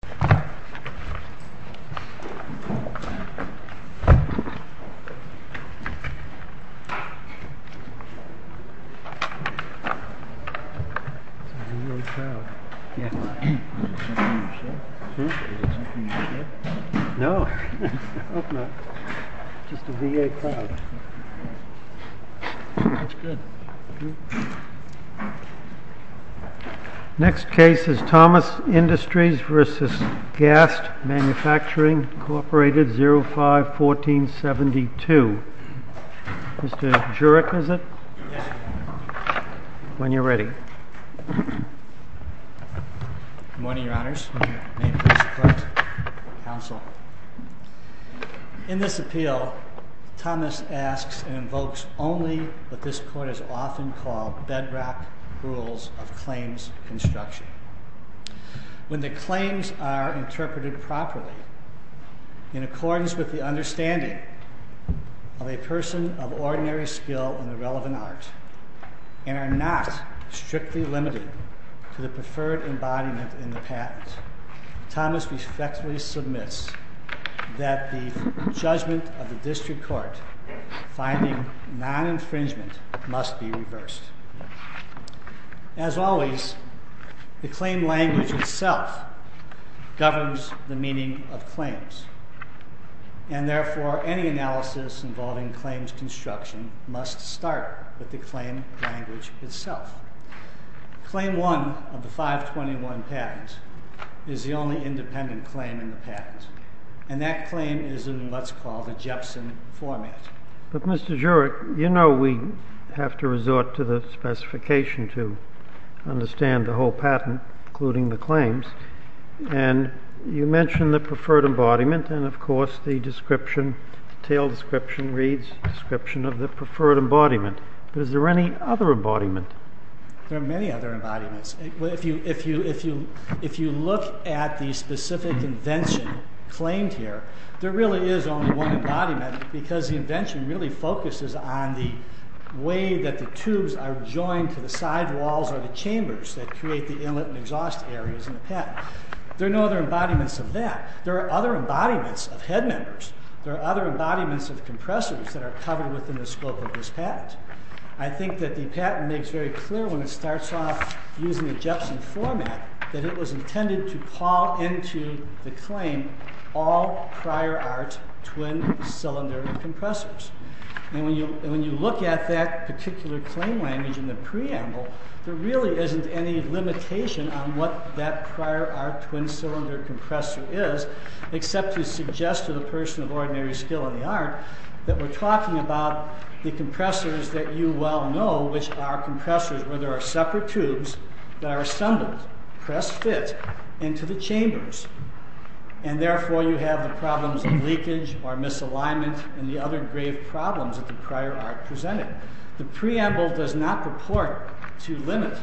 This is a real cloud. Is it something you ship? No, I hope not. It's just a VA cloud. That's good. Next case is Thomas Industries v. Gast Manufacturing, Co., 05-1472. Mr. Jurek, is it? Yes. When you're ready. Good morning, Your Honors. May it please the Court. Counsel. In this appeal, Thomas asks and invokes only what this Court has often called bedrock rules of claims construction. When the claims are interpreted properly in accordance with the understanding of a person of ordinary skill in the relevant art, and are not strictly limited to the preferred embodiment in the patent, Thomas respectfully submits that the judgment of the District Court finding non-infringement must be reversed. As always, the claim language itself governs the meaning of claims, and therefore any analysis involving claims construction must start with the claim language itself. Claim 1 of the 521 patent is the only independent claim in the patent, and that claim is in what's called a Jepson format. But, Mr. Jurek, you know we have to resort to the specification to understand the whole patent, including the claims, and you mentioned the preferred embodiment, and of course the description, the detailed description, reads description of the preferred embodiment, but is there any other embodiment? There are many other embodiments. If you look at the specific invention claimed here, there really is only one embodiment, because the invention really focuses on the way that the tubes are joined to the side walls or the chambers that create the inlet and exhaust areas in the patent. There are no other embodiments of that. There are other embodiments of compressors that are covered within the scope of this patent. I think that the patent makes very clear when it starts off using the Jepson format that it was intended to paw into the claim all prior art twin cylinder compressors. And when you look at that particular claim language in the preamble, there really isn't any limitation on what that prior art twin cylinder compressor is, except to suggest to the person of ordinary skill in the art that we're talking about the compressors that you well know, which are compressors where there are separate tubes that are assembled, press fit into the chambers, and therefore you have the problems of leakage or misalignment and the other grave problems that the prior art presented. The preamble does not report to limit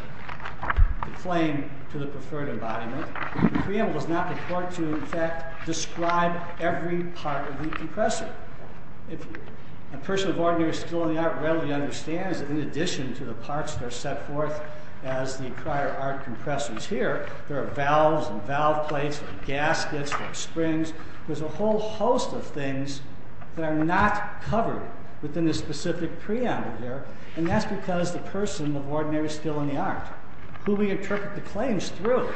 the claim to the preferred embodiment. The preamble does not report to, in fact, describe every part of the compressor. A person of ordinary skill in the art readily understands that in addition to the parts that are set forth as the prior art compressors here, there are valves and valve plates and gaskets and springs. There's a whole host of things that are not covered within the specific preamble here, and that's because the person of ordinary skill in the art, who we interpret the claims through,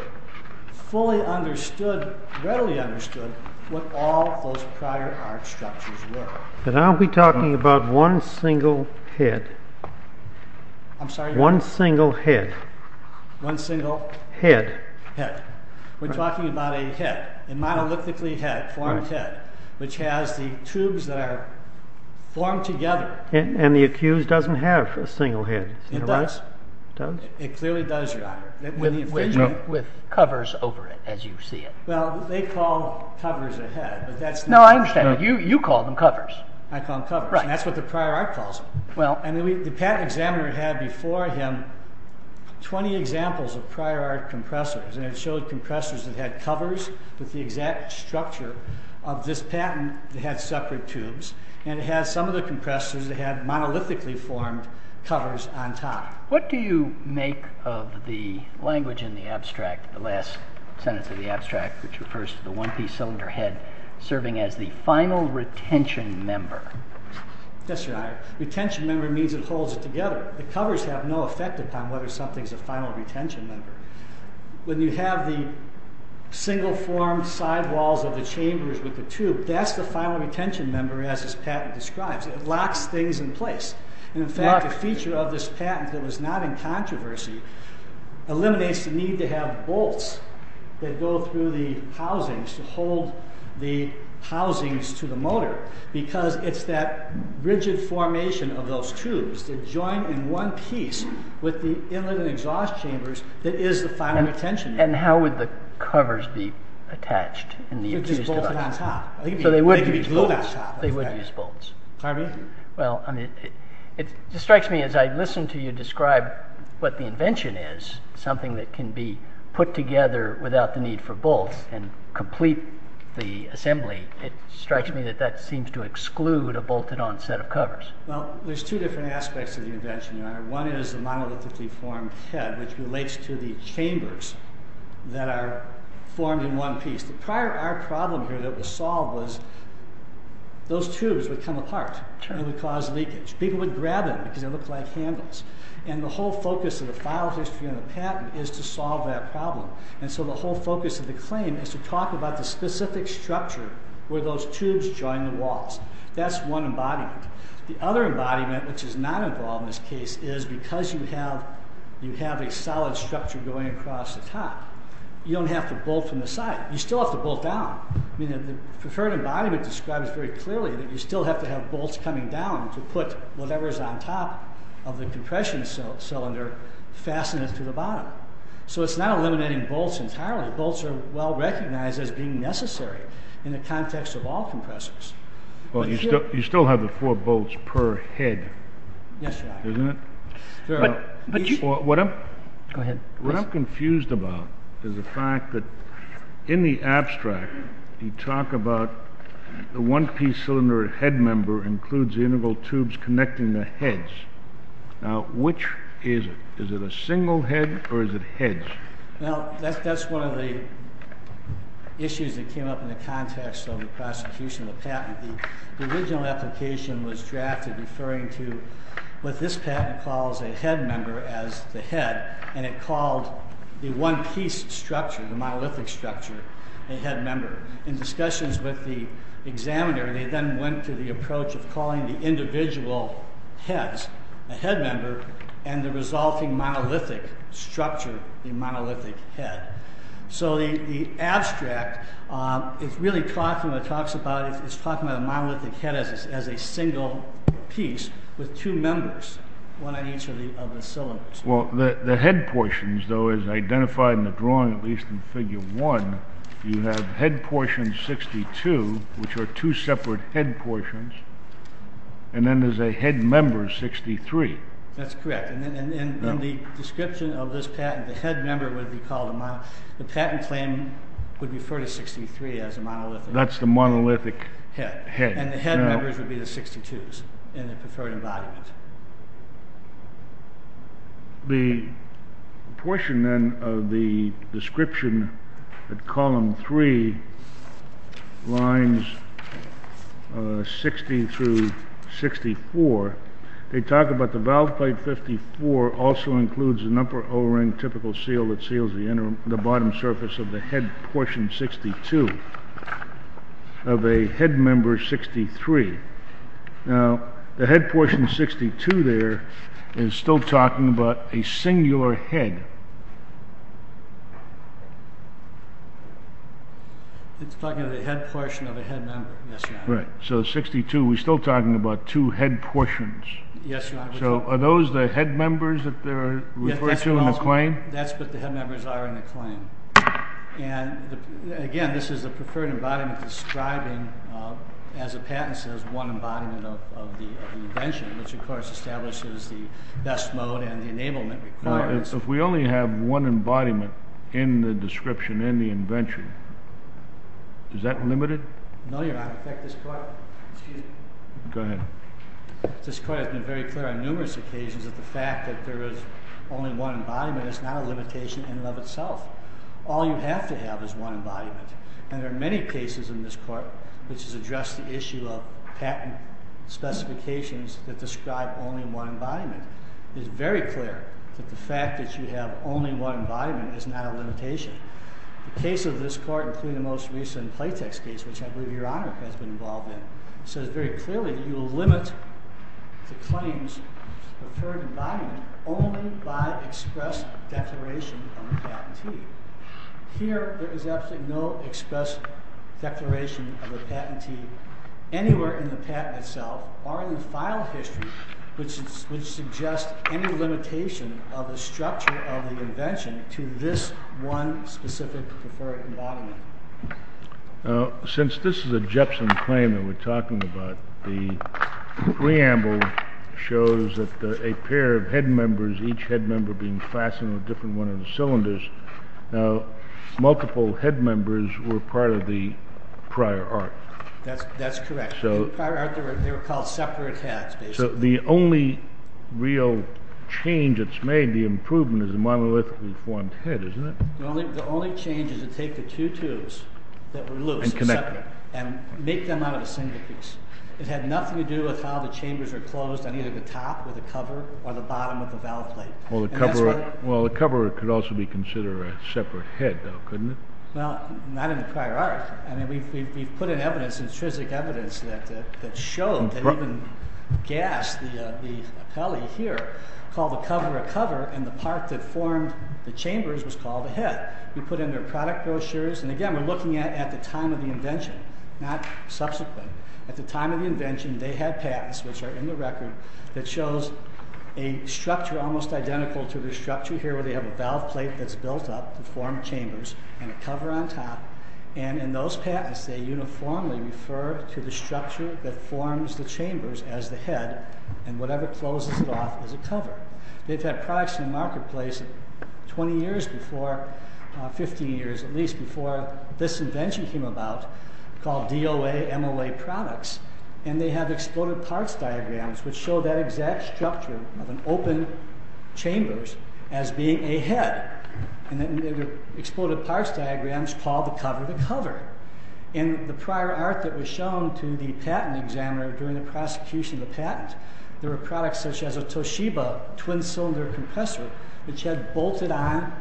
fully understood, readily understood what all those prior art structures were. Now we're talking about one single head. I'm sorry? One single head. One single? Head. Head. We're talking about a head, a monolithically formed head, which has the tubes that are formed together. And the accused doesn't have a single head. It does. It clearly does, Your Honor. With covers over it, as you see it. Well, they call covers a head. No, I understand. You call them covers. I call them covers. And that's what the prior art calls them. And the patent examiner had before him 20 examples of prior art compressors, and it showed compressors that had covers with the exact structure of this patent that had separate tubes, and it had some of the compressors that had monolithically formed covers on top. What do you make of the language in the abstract, the last sentence of the abstract, which refers to the one-piece cylinder head serving as the final retention member? Yes, Your Honor. Retention member means it holds it together. The covers have no effect upon whether something's a final retention member. When you have the single-formed sidewalls of the chambers with the tube, that's the final retention member as this patent describes. It locks things in place. And, in fact, the feature of this patent that was not in controversy eliminates the need to have bolts that go through the housings to hold the housings to the motor because it's that rigid formation of those tubes that join in one piece with the inlet and exhaust chambers that is the final retention member. And how would the covers be attached? They'd be bolted on top. So they wouldn't use bolts. They would use bolts. Pardon me? Well, it strikes me as I listen to you describe what the invention is, something that can be put together without the need for bolts and complete the assembly, it strikes me that that seems to exclude a bolted-on set of covers. Well, there's two different aspects of the invention, Your Honor. One is the monolithically formed head, which relates to the chambers that are formed in one piece. Prior, our problem here that was solved was those tubes would come apart and would cause leakage. People would grab them because they looked like handles. And the whole focus of the file history on the patent is to solve that problem. And so the whole focus of the claim is to talk about the specific structure where those tubes join the walls. That's one embodiment. The other embodiment, which is not involved in this case, is because you have a solid structure going across the top, you don't have to bolt from the side. You still have to bolt down. I mean, the preferred embodiment describes very clearly that you still have to have bolts coming down to put whatever is on top of the compression cylinder fastened to the bottom. So it's not eliminating bolts entirely. Bolts are well recognized as being necessary in the context of all compressors. Well, you still have the four bolts per head. Yes, Your Honor. Isn't it? What I'm confused about is the fact that in the abstract, you talk about the one-piece cylinder head member includes integral tubes connecting the heads. Now, which is it? Is it a single head or is it heads? Well, that's one of the issues that came up in the context of the prosecution of the patent. The original application was drafted referring to what this patent calls a head member as the head, and it called the one-piece structure, the monolithic structure, a head member. In discussions with the examiner, they then went to the approach of calling the individual heads a head member and the resulting monolithic structure the monolithic head. So the abstract is really talking about a monolithic head as a single piece with two members, one on each of the cylinders. Well, the head portions, though, as identified in the drawing, at least in Figure 1, you have head portion 62, which are two separate head portions, and then there's a head member 63. That's correct. And in the description of this patent, the head member would be called a monolith. The patent claim would refer to 63 as a monolithic head. That's the monolithic head. And the head members would be the 62s in the preferred embodiment. The portion, then, of the description at Column 3, lines 60 through 64, they talk about the valve plate 54 also includes an upper O-ring typical seal that seals the bottom surface of the head portion 62 of a head member 63. Now, the head portion 62 there is still talking about a singular head. It's talking about a head portion of a head member. Yes, Your Honor. So 62, we're still talking about two head portions. Yes, Your Honor. So are those the head members that are referred to in the claim? That's what the head members are in the claim. And, again, this is a preferred embodiment describing, as a patent says, one embodiment of the invention, which, of course, establishes the best mode and the enablement requirements. If we only have one embodiment in the description, in the invention, is that limited? No, Your Honor. In fact, this court has been very clear on numerous occasions that the fact that there is only one embodiment is not a limitation in and of itself. All you have to have is one embodiment. And there are many cases in this court which has addressed the issue of patent specifications that describe only one embodiment. It is very clear that the fact that you have only one embodiment is not a limitation. The case of this court, including the most recent Playtex case, which I believe Your Honor has been involved in, says very clearly that you will limit the claims of preferred embodiment only by express declaration of a patentee. Here, there is absolutely no express declaration of a patentee anywhere in the patent itself or in the file history which suggests any limitation of the structure of the invention to this one specific preferred embodiment. Since this is a Jepson claim that we're talking about, the preamble shows that a pair of head members, each head member being fastened with a different one of the cylinders, multiple head members were part of the prior art. That's correct. In prior art, they were called separate heads, basically. So the only real change that's made, the improvement, is a monolithically formed head, isn't it? The only change is to take the two tubes that were loose and separate and make them out of a single piece. It had nothing to do with how the chambers are closed on either the top or the cover or the bottom of the valve plate. Well, the cover could also be considered a separate head, though, couldn't it? Well, not in the prior art. I mean, we've put in evidence, intrinsic evidence, that showed that even Gass, the appellee here, called the cover a cover and the part that formed the chambers was called a head. We put in their product brochures, and again, we're looking at the time of the invention, not subsequent. At the time of the invention, they had patents, which are in the record, that shows a structure almost identical to the structure here where they have a valve plate that's built up to form chambers and a cover on top, and in those patents, they uniformly refer to the structure that forms the chambers as the head, and whatever closes it off is a cover. They've had products in the marketplace 20 years before, 15 years at least, before this invention came about called DOA MOA products, and they have exploded parts diagrams which show that exact structure of an open chamber as being a head. They have exploded parts diagrams called the cover the cover. In the prior art that was shown to the patent examiner during the prosecution of the patent, there were products such as a Toshiba twin-cylinder compressor which had bolted-on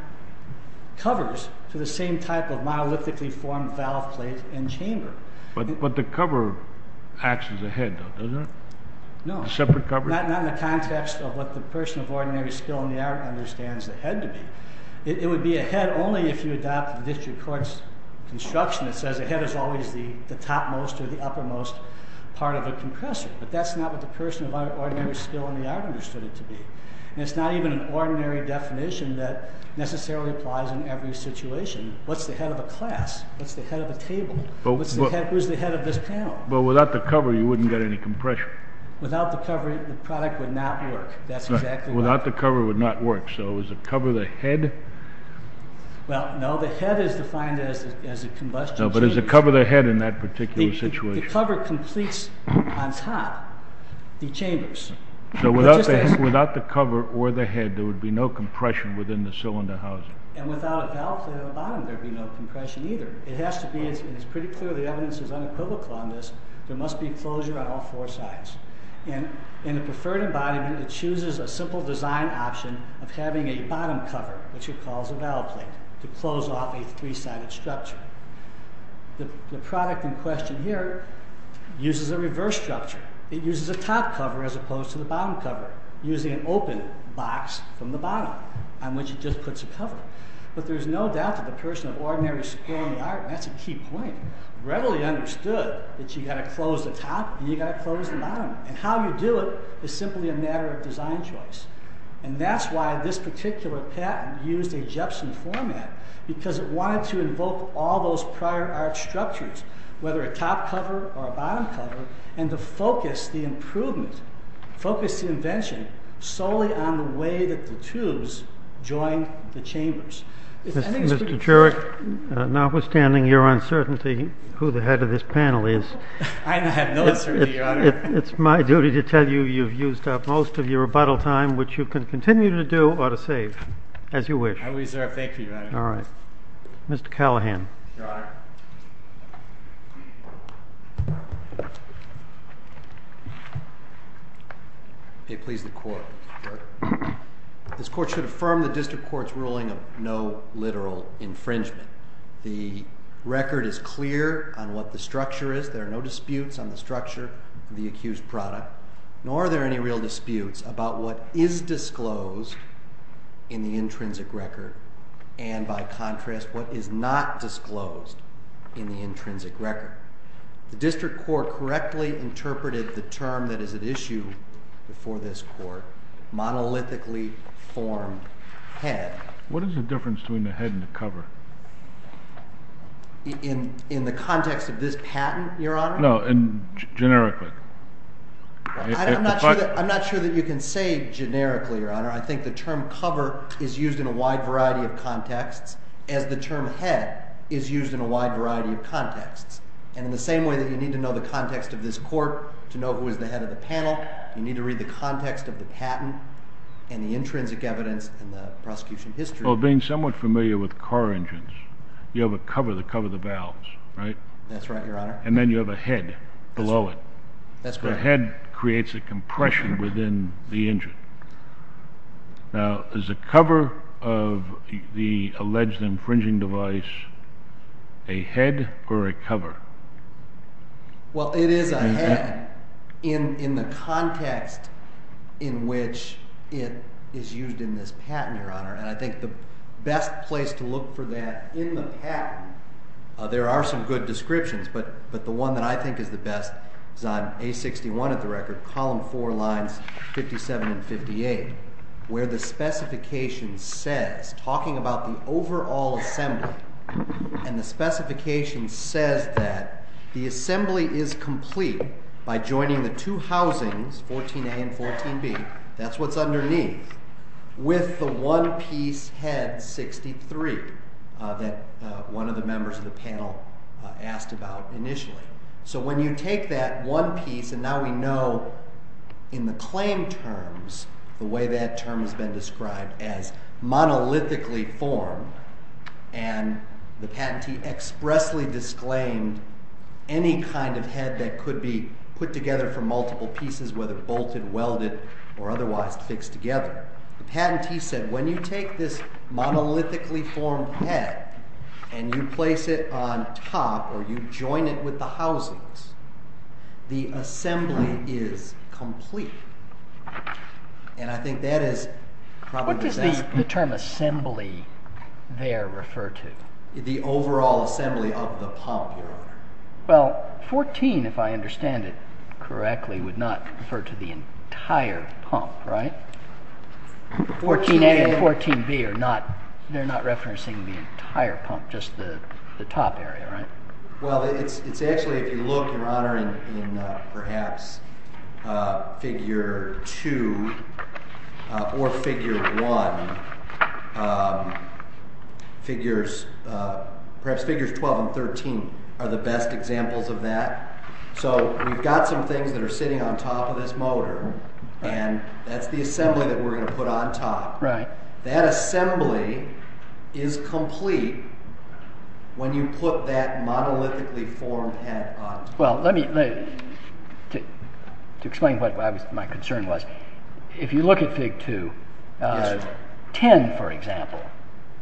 covers to the same type of monolithically formed valve plate and chamber. But the cover acts as a head, though, doesn't it? No. A separate cover? Not in the context of what the person of ordinary skill in the art understands the head to be. It would be a head only if you adopt the district court's construction that says a head is always the topmost or the uppermost part of a compressor, but that's not what the person of ordinary skill in the art understood it to be. It's not even an ordinary definition that necessarily applies in every situation. What's the head of a class? What's the head of a table? Who's the head of this panel? But without the cover, you wouldn't get any compression. Without the cover, the product would not work. That's exactly right. Without the cover, it would not work. So is the cover the head? Well, no. The head is defined as a combustion chamber. But is the cover the head in that particular situation? The cover completes on top the chambers. So without the cover or the head, there would be no compression within the cylinder housing. And without a valve plate on the bottom, there would be no compression either. It has to be, and it's pretty clear the evidence is unequivocal on this, there must be closure on all four sides. In a preferred embodiment, it chooses a simple design option of having a bottom cover, which it calls a valve plate, to close off a three-sided structure. The product in question here uses a reverse structure. It uses a top cover as opposed to the bottom cover, using an open box from the bottom on which it just puts a cover. But there's no doubt that the person of ordinary skill in the art, and that's a key point, readily understood that you've got to close the top and you've got to close the bottom. And how you do it is simply a matter of design choice. And that's why this particular patent used a Jepson format, because it wanted to invoke all those prior art structures, whether a top cover or a bottom cover, and to focus the improvement, focus the invention, solely on the way that the tubes join the chambers. Mr. Jurek, notwithstanding your uncertainty who the head of this panel is. I have no uncertainty, Your Honor. It's my duty to tell you you've used up most of your rebuttal time, which you can continue to do or to save, as you wish. I will reserve. Thank you, Your Honor. All right. Mr. Callahan. Your Honor. May it please the Court. This Court should affirm the district court's ruling of no literal infringement. The record is clear on what the structure is. There are no disputes on the structure of the accused product, nor are there any real disputes about what is disclosed in the intrinsic record and, by contrast, what is not disclosed in the intrinsic record. The district court correctly interpreted the term that is at issue before this Court, monolithically formed head. What is the difference between the head and the cover? In the context of this patent, Your Honor? No, generically. I'm not sure that you can say generically, Your Honor. I think the term cover is used in a wide variety of contexts as the term head is used in a wide variety of contexts. And in the same way that you need to know the context of this Court to know who is the head of the panel, you need to read the context of the patent and the intrinsic evidence in the prosecution history. Well, being somewhat familiar with car engines, you have a cover to cover the valves, right? That's right, Your Honor. And then you have a head below it. That's correct. The head creates a compression within the engine. Now, is the cover of the alleged infringing device a head or a cover? Well, it is a head in the context in which it is used in this patent, Your Honor. And I think the best place to look for that in the patent, there are some good descriptions, but the one that I think is the best is on A61 at the record, column 4, lines 57 and 58, where the specification says, talking about the overall assembly, and the specification says that the assembly is complete by joining the two housings, 14A and 14B, that's what's underneath, with the one-piece head, 63, that one of the members of the panel asked about initially. So when you take that one piece, and now we know in the claim terms the way that term has been described, as monolithically formed, and the patentee expressly disclaimed any kind of head that could be put together from multiple pieces, whether bolted, welded, or otherwise fixed together, the patentee said when you take this monolithically formed head and you place it on top or you join it with the housings, the assembly is complete. And I think that is probably the best... What does the term assembly there refer to? The overall assembly of the pump, Your Honor. Well, 14, if I understand it correctly, would not refer to the entire pump, right? 14A and 14B are not referencing the entire pump, just the top area, right? Well, it's actually, if you look, Your Honor, in perhaps figure 2 or figure 1, perhaps figures 12 and 13 are the best examples of that. So we've got some things that are sitting on top of this motor, and that's the assembly that we're going to put on top. That assembly is complete when you put that monolithically formed head on top. Well, let me explain what my concern was. If you look at figure 2, 10, for example,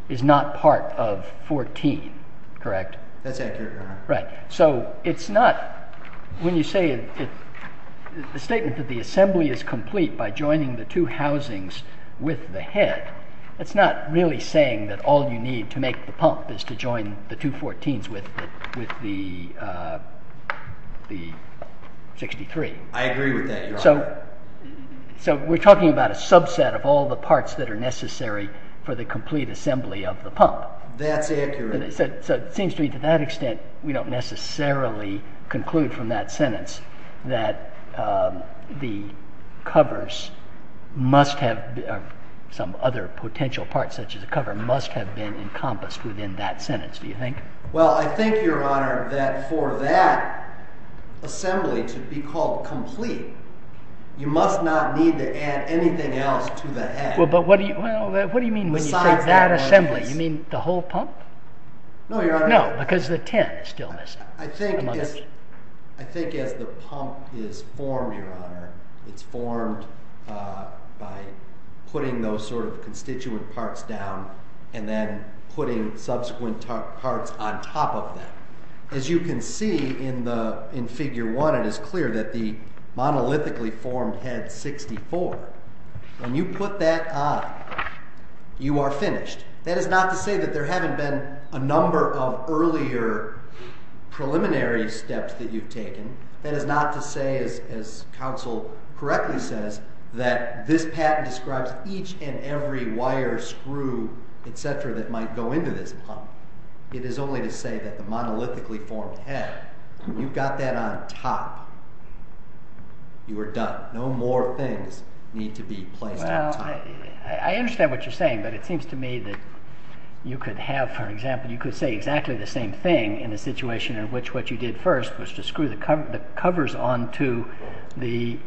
is not part of 14, correct? That's accurate, Your Honor. Right. So it's not... When you say the statement that the assembly is complete by joining the two housings with the head, that's not really saying that all you need to make the pump is to join the two 14s with the 63. I agree with that, Your Honor. So we're talking about a subset of all the parts that are necessary for the complete assembly of the pump. That's accurate. So it seems to me to that extent we don't necessarily conclude from that sentence that the covers must have... Some other potential parts, such as a cover, must have been encompassed within that sentence, do you think? Well, I think, Your Honor, that for that assembly to be called complete, you must not need to add anything else to the head. Well, but what do you mean when you say that assembly? You mean the whole pump? No, Your Honor. No, because the 10 is still missing. I think as the pump is formed, Your Honor, it's formed by putting those sort of constituent parts down and then putting subsequent parts on top of them. As you can see in Figure 1, it is clear that the monolithically formed head 64, when you put that on, you are finished. That is not to say that there haven't been a number of earlier preliminary steps that you've taken. That is not to say, as counsel correctly says, that this patent describes each and every wire, screw, etc., that might go into this pump. It is only to say that the monolithically formed head, when you've got that on top, you are done. No more things need to be placed on top. Well, I understand what you're saying, but it seems to me that you could have, for example, you could say exactly the same thing in a situation in which what you did first was to screw the covers onto the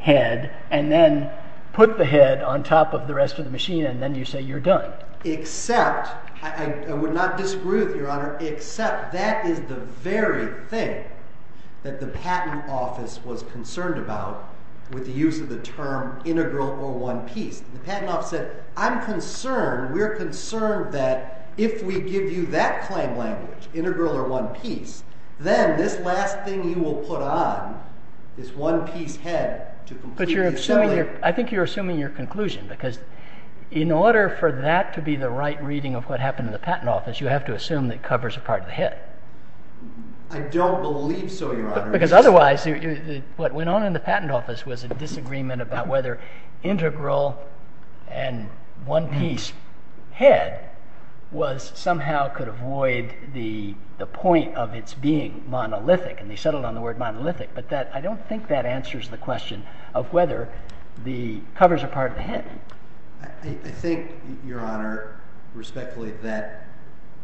head and then put the head on top of the rest of the machine and then you say you're done. I would not disagree with you, Your Honor, except that is the very thing that the patent office was concerned about with the use of the term integral or one piece. The patent office said, I'm concerned, we're concerned that if we give you that claim language, integral or one piece, then this last thing you will put on, this one piece head to complete the assembly. I think you're assuming your conclusion because in order for that to be the right reading of what happened in the patent office, you have to assume that it covers a part of the head. I don't believe so, Your Honor. Because otherwise, what went on in the patent office was a disagreement about whether integral and one piece head somehow could avoid the point of its being monolithic and they settled on the word monolithic, but I don't think that answers the question of whether the covers a part of the head. I think, Your Honor, respectfully, that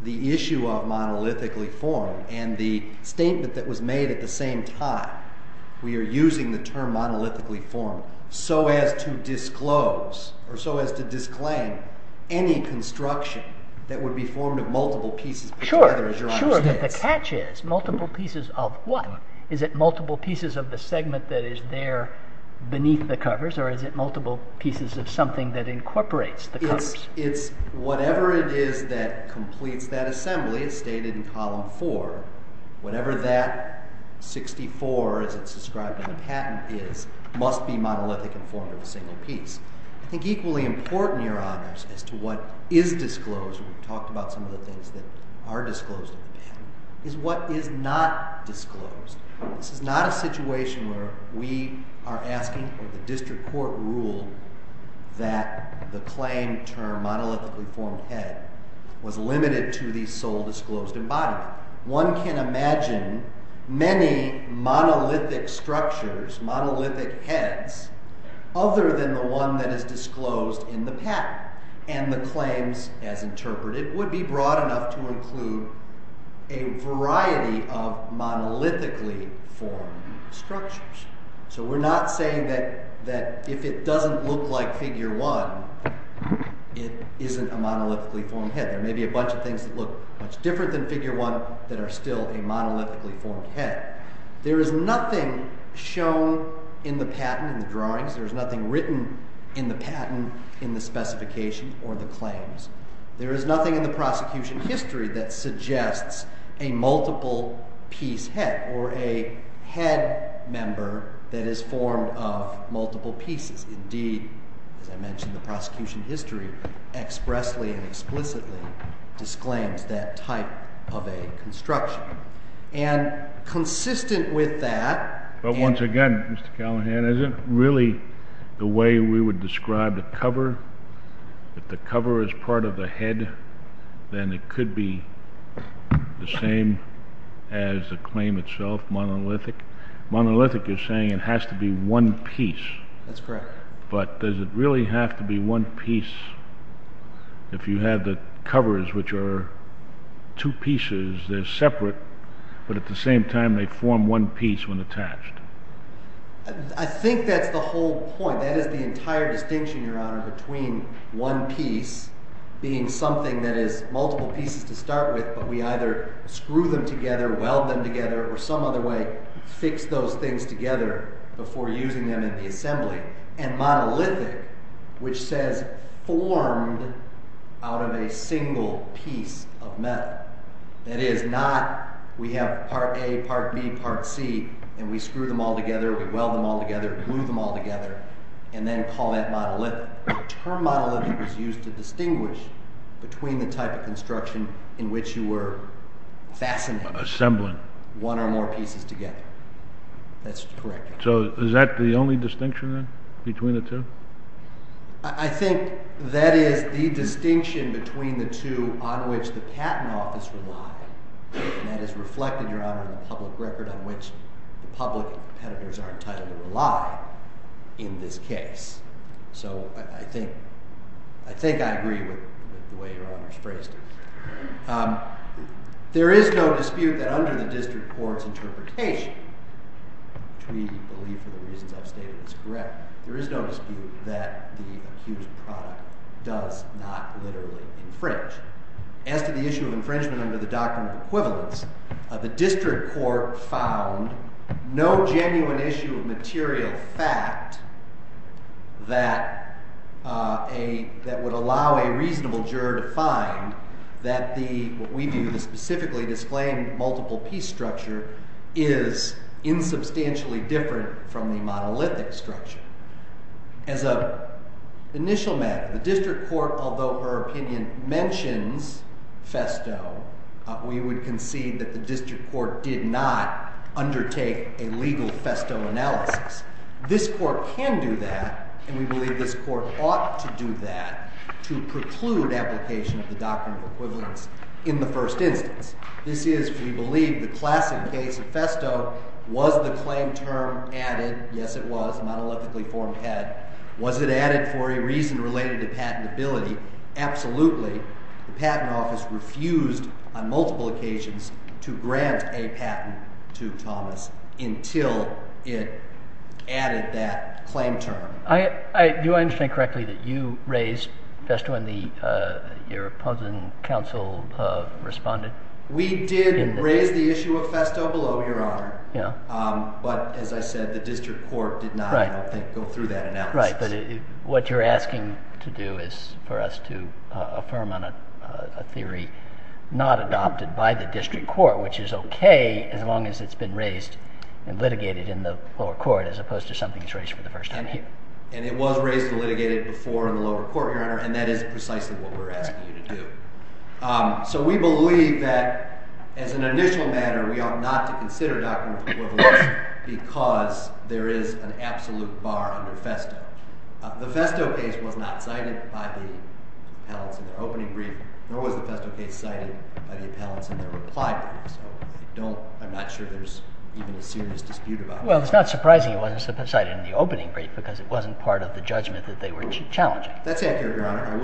the issue of monolithically formed and the statement that was made at the same time, we are using the term monolithically formed so as to disclose or so as to disclaim any construction that would be formed of multiple pieces put together, as Your Honor says. Sure, but the catch is, multiple pieces of what? Is it multiple pieces of the segment that is there beneath the covers, or is it multiple pieces of something that incorporates the covers? It's whatever it is that completes that assembly as stated in column 4, whatever that 64 as it's described in the patent is must be monolithic and formed of a single piece. I think equally important, Your Honors, as to what is disclosed, and we've talked about some of the things that are disclosed in the patent, is what is not disclosed. This is not a situation where we are asking for the district court rule that the claim term monolithically formed head was limited to the sole disclosed embodiment. One can imagine many monolithic structures, monolithic heads, other than the one that is disclosed in the patent, and the claims as interpreted would be broad enough to include a variety of monolithically formed structures. So we're not saying that if it doesn't look like figure 1, it isn't a monolithically formed head. There may be a bunch of things that look much different than figure 1 that are still a monolithically formed head. There is nothing shown in the patent in the drawings. There is nothing written in the patent in the specification or the claims. There is nothing in the prosecution history that suggests a multiple-piece head or a head member that is formed of multiple pieces. Indeed, as I mentioned, the prosecution history expressly and explicitly disclaims that type of a construction. And consistent with that... But once again, Mr. Callahan, is it really the way we would describe the cover? If the cover is part of the head, then it could be the same as the claim itself, monolithic? Monolithic, you're saying it has to be one piece. That's correct. But does it really have to be one piece if you have the covers, which are two pieces, they're separate, but at the same time they form one piece when attached? That is the entire distinction, Your Honor, between one piece being something that is multiple pieces to start with, but we either screw them together, weld them together, or some other way fix those things together before using them in the assembly, and monolithic, which says formed out of a single piece of metal. That is not, we have part A, part B, part C, and we screw them all together, we weld them all together, glue them all together, and then call that monolithic. The term monolithic was used to distinguish between the type of construction in which you were fascinating. Assembling. One or more pieces together. That's correct. So is that the only distinction, then, between the two? I think that is the distinction between the two on which the patent office relied, and that is reflected, Your Honor, in the public record on which the public and competitors are entitled to rely in this case. So I think I agree with the way Your Honor's phrased it. There is no dispute that under the district court's interpretation, which we believe for the reasons I've stated is correct, there is no dispute that the accused product does not literally infringe. As to the issue of infringement under the doctrine of equivalence, the district court found no genuine issue of material fact that would allow a reasonable juror to find that what we view as specifically displaying multiple piece structure is insubstantially different from the monolithic structure. As an initial matter, the district court, although her opinion mentions FESTO, we would concede that the district court did not undertake a legal FESTO analysis. This court can do that, and we believe this court ought to do that to preclude application of the doctrine of equivalence in the first instance. This is, we believe, the classic case of FESTO. Was the claim term added? Yes, it was, monolithically formed head. Was it added for a reason related to patentability? Absolutely. The patent office refused on multiple occasions to grant a patent to Thomas until it added that claim term. Do I understand correctly that you raised FESTO when your opposing counsel responded? We did raise the issue of FESTO below, Your Honor. But, as I said, the district court did not go through that analysis. Right, but what you're asking to do is for us to affirm on a theory not adopted by the district court, which is okay as long as it's been raised and litigated in the lower court as opposed to something that's raised for the first time here. And it was raised and litigated before in the lower court, Your Honor, and that is precisely what we're asking you to do. So we believe that, as an initial matter, we ought not to consider doctrine of equivalence because there is an absolute bar under FESTO. The FESTO case was not cited by the appellants in their opening brief, nor was the FESTO case cited by the appellants in their reply brief. So I'm not sure there's even a serious dispute about that. Well, it's not surprising it wasn't cited in the opening brief because it wasn't part of the judgment that they were challenging. That's accurate, Your Honor.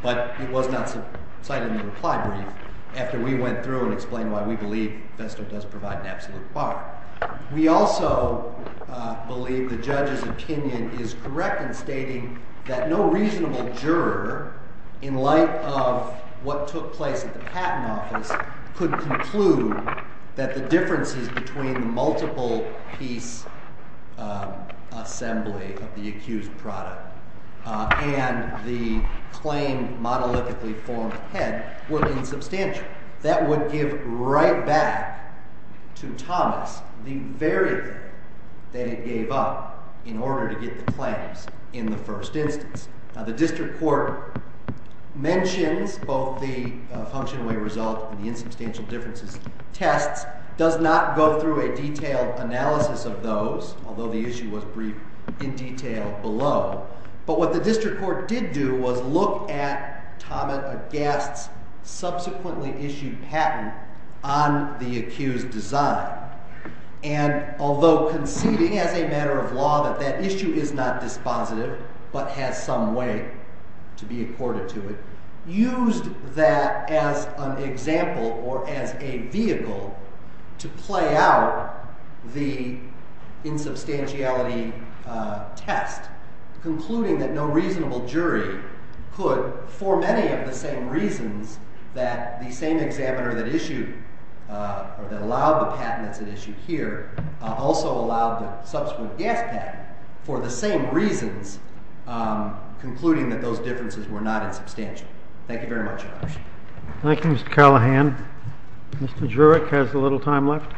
But it was not cited in the reply brief after we went through and explained why we believe FESTO does provide an absolute bar. We also believe the judge's opinion is correct in stating that no reasonable juror, in light of what took place at the patent office, could conclude that the differences between the multiple-piece assembly of the accused product and the claim monolithically formed head were insubstantial. That would give right back to Thomas the very thing that it gave up in order to get the claims in the first instance. Now, the district court mentions both the function away result and the insubstantial differences tests, does not go through a detailed analysis of those, although the issue was briefed in detail below. But what the district court did do was look at Thomas Agast's subsequently issued patent on the accused design. And although conceding as a matter of law that that issue is not dispositive but has some way to be accorded to it, used that as an example or as a vehicle to play out the insubstantiality test, concluding that no reasonable jury could, for many of the same reasons, that the same examiner that allowed the patent that's at issue here also allowed the subsequent gas patent for the same reasons, concluding that those differences were not insubstantial. Thank you very much, Your Honor. Thank you, Mr. Callahan. Mr. Jurek has a little time left.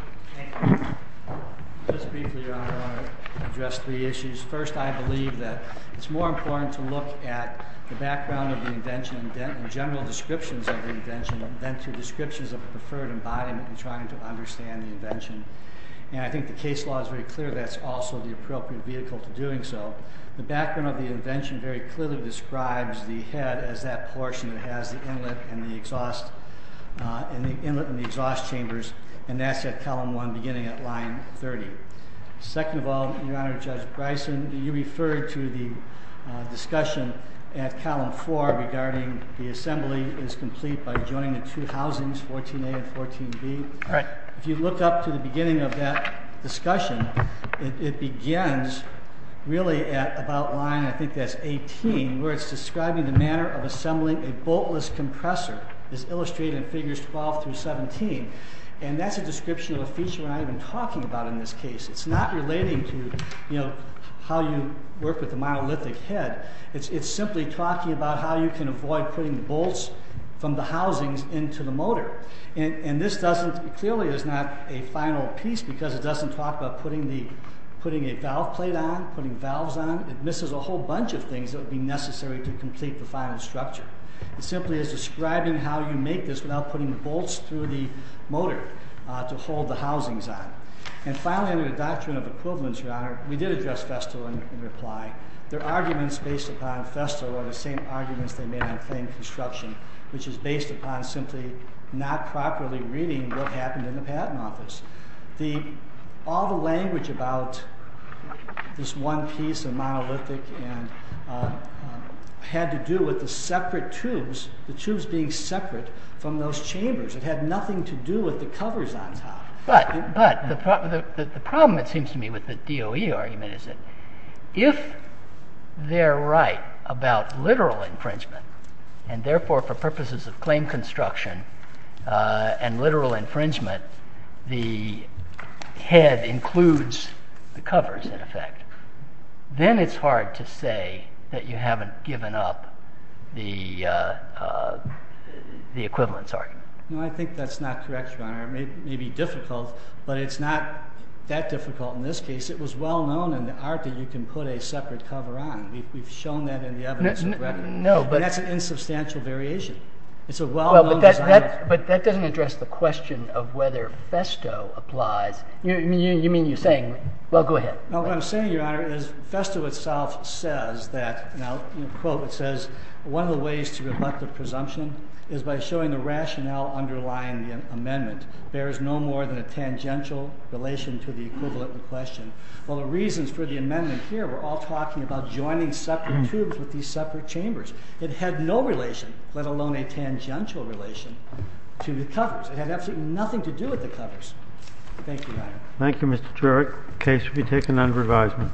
Just briefly, Your Honor, I want to address three issues. First, I believe that it's more important to look at the background of the invention and general descriptions of the invention than to descriptions of a preferred embodiment in trying to understand the invention. And I think the case law is very clear that's also the appropriate vehicle to doing so. The background of the invention very clearly describes the head as that portion that has the inlet and the exhaust chambers and that's at Column 1 beginning at Line 30. Second of all, Your Honor, Judge Bryson, you referred to the discussion at Column 4 regarding the assembly is complete by joining the two housings, 14a and 14b. All right. If you look up to the beginning of that discussion, it begins really at about Line, I think that's 18, where it's describing the manner of assembling a boltless compressor. It's illustrated in Figures 12 through 17. And that's a description of a feature we're not even talking about in this case. It's not relating to, you know, how you work with a monolithic head. It's simply talking about how you can avoid putting bolts from the housings into the motor. And this clearly is not a final piece because it doesn't talk about putting a valve plate on, putting valves on. It misses a whole bunch of things that would be necessary to complete the final structure. It simply is describing how you make this without putting bolts through the motor to hold the housings on. And finally, under the doctrine of equivalence, Your Honor, we did address Festo in reply. Their arguments based upon Festo are the same arguments they made on claimed construction, which is based upon simply not properly reading what happened in the patent office. All the language about this one piece of monolithic had to do with the separate tubes, the tubes being separate from those chambers. It had nothing to do with the covers on top. But the problem, it seems to me, with the DOE argument is that if they're right about literal infringement and, therefore, for purposes of claimed construction and literal infringement, the head includes the covers, in effect, then it's hard to say that you haven't given up the equivalence argument. No, I think that's not correct, Your Honor. It may be difficult, but it's not that difficult in this case. It was well known in the art that you can put a separate cover on. We've shown that in the evidence of record. And that's an insubstantial variation. It's a well-known design. But that doesn't address the question of whether Festo applies. You mean you're saying... Well, go ahead. No, what I'm saying, Your Honor, is Festo itself says that, and I'll quote, it says, one of the ways to rebut the presumption is by showing the rationale underlying the amendment. There is no more than a tangential relation to the equivalent in question. Well, the reasons for the amendment here were all talking about joining separate tubes with these separate chambers. It had no relation, let alone a tangential relation, to the covers. It had absolutely nothing to do with the covers. Thank you, Your Honor. Thank you, Mr. Turek. The case will be taken under advisement.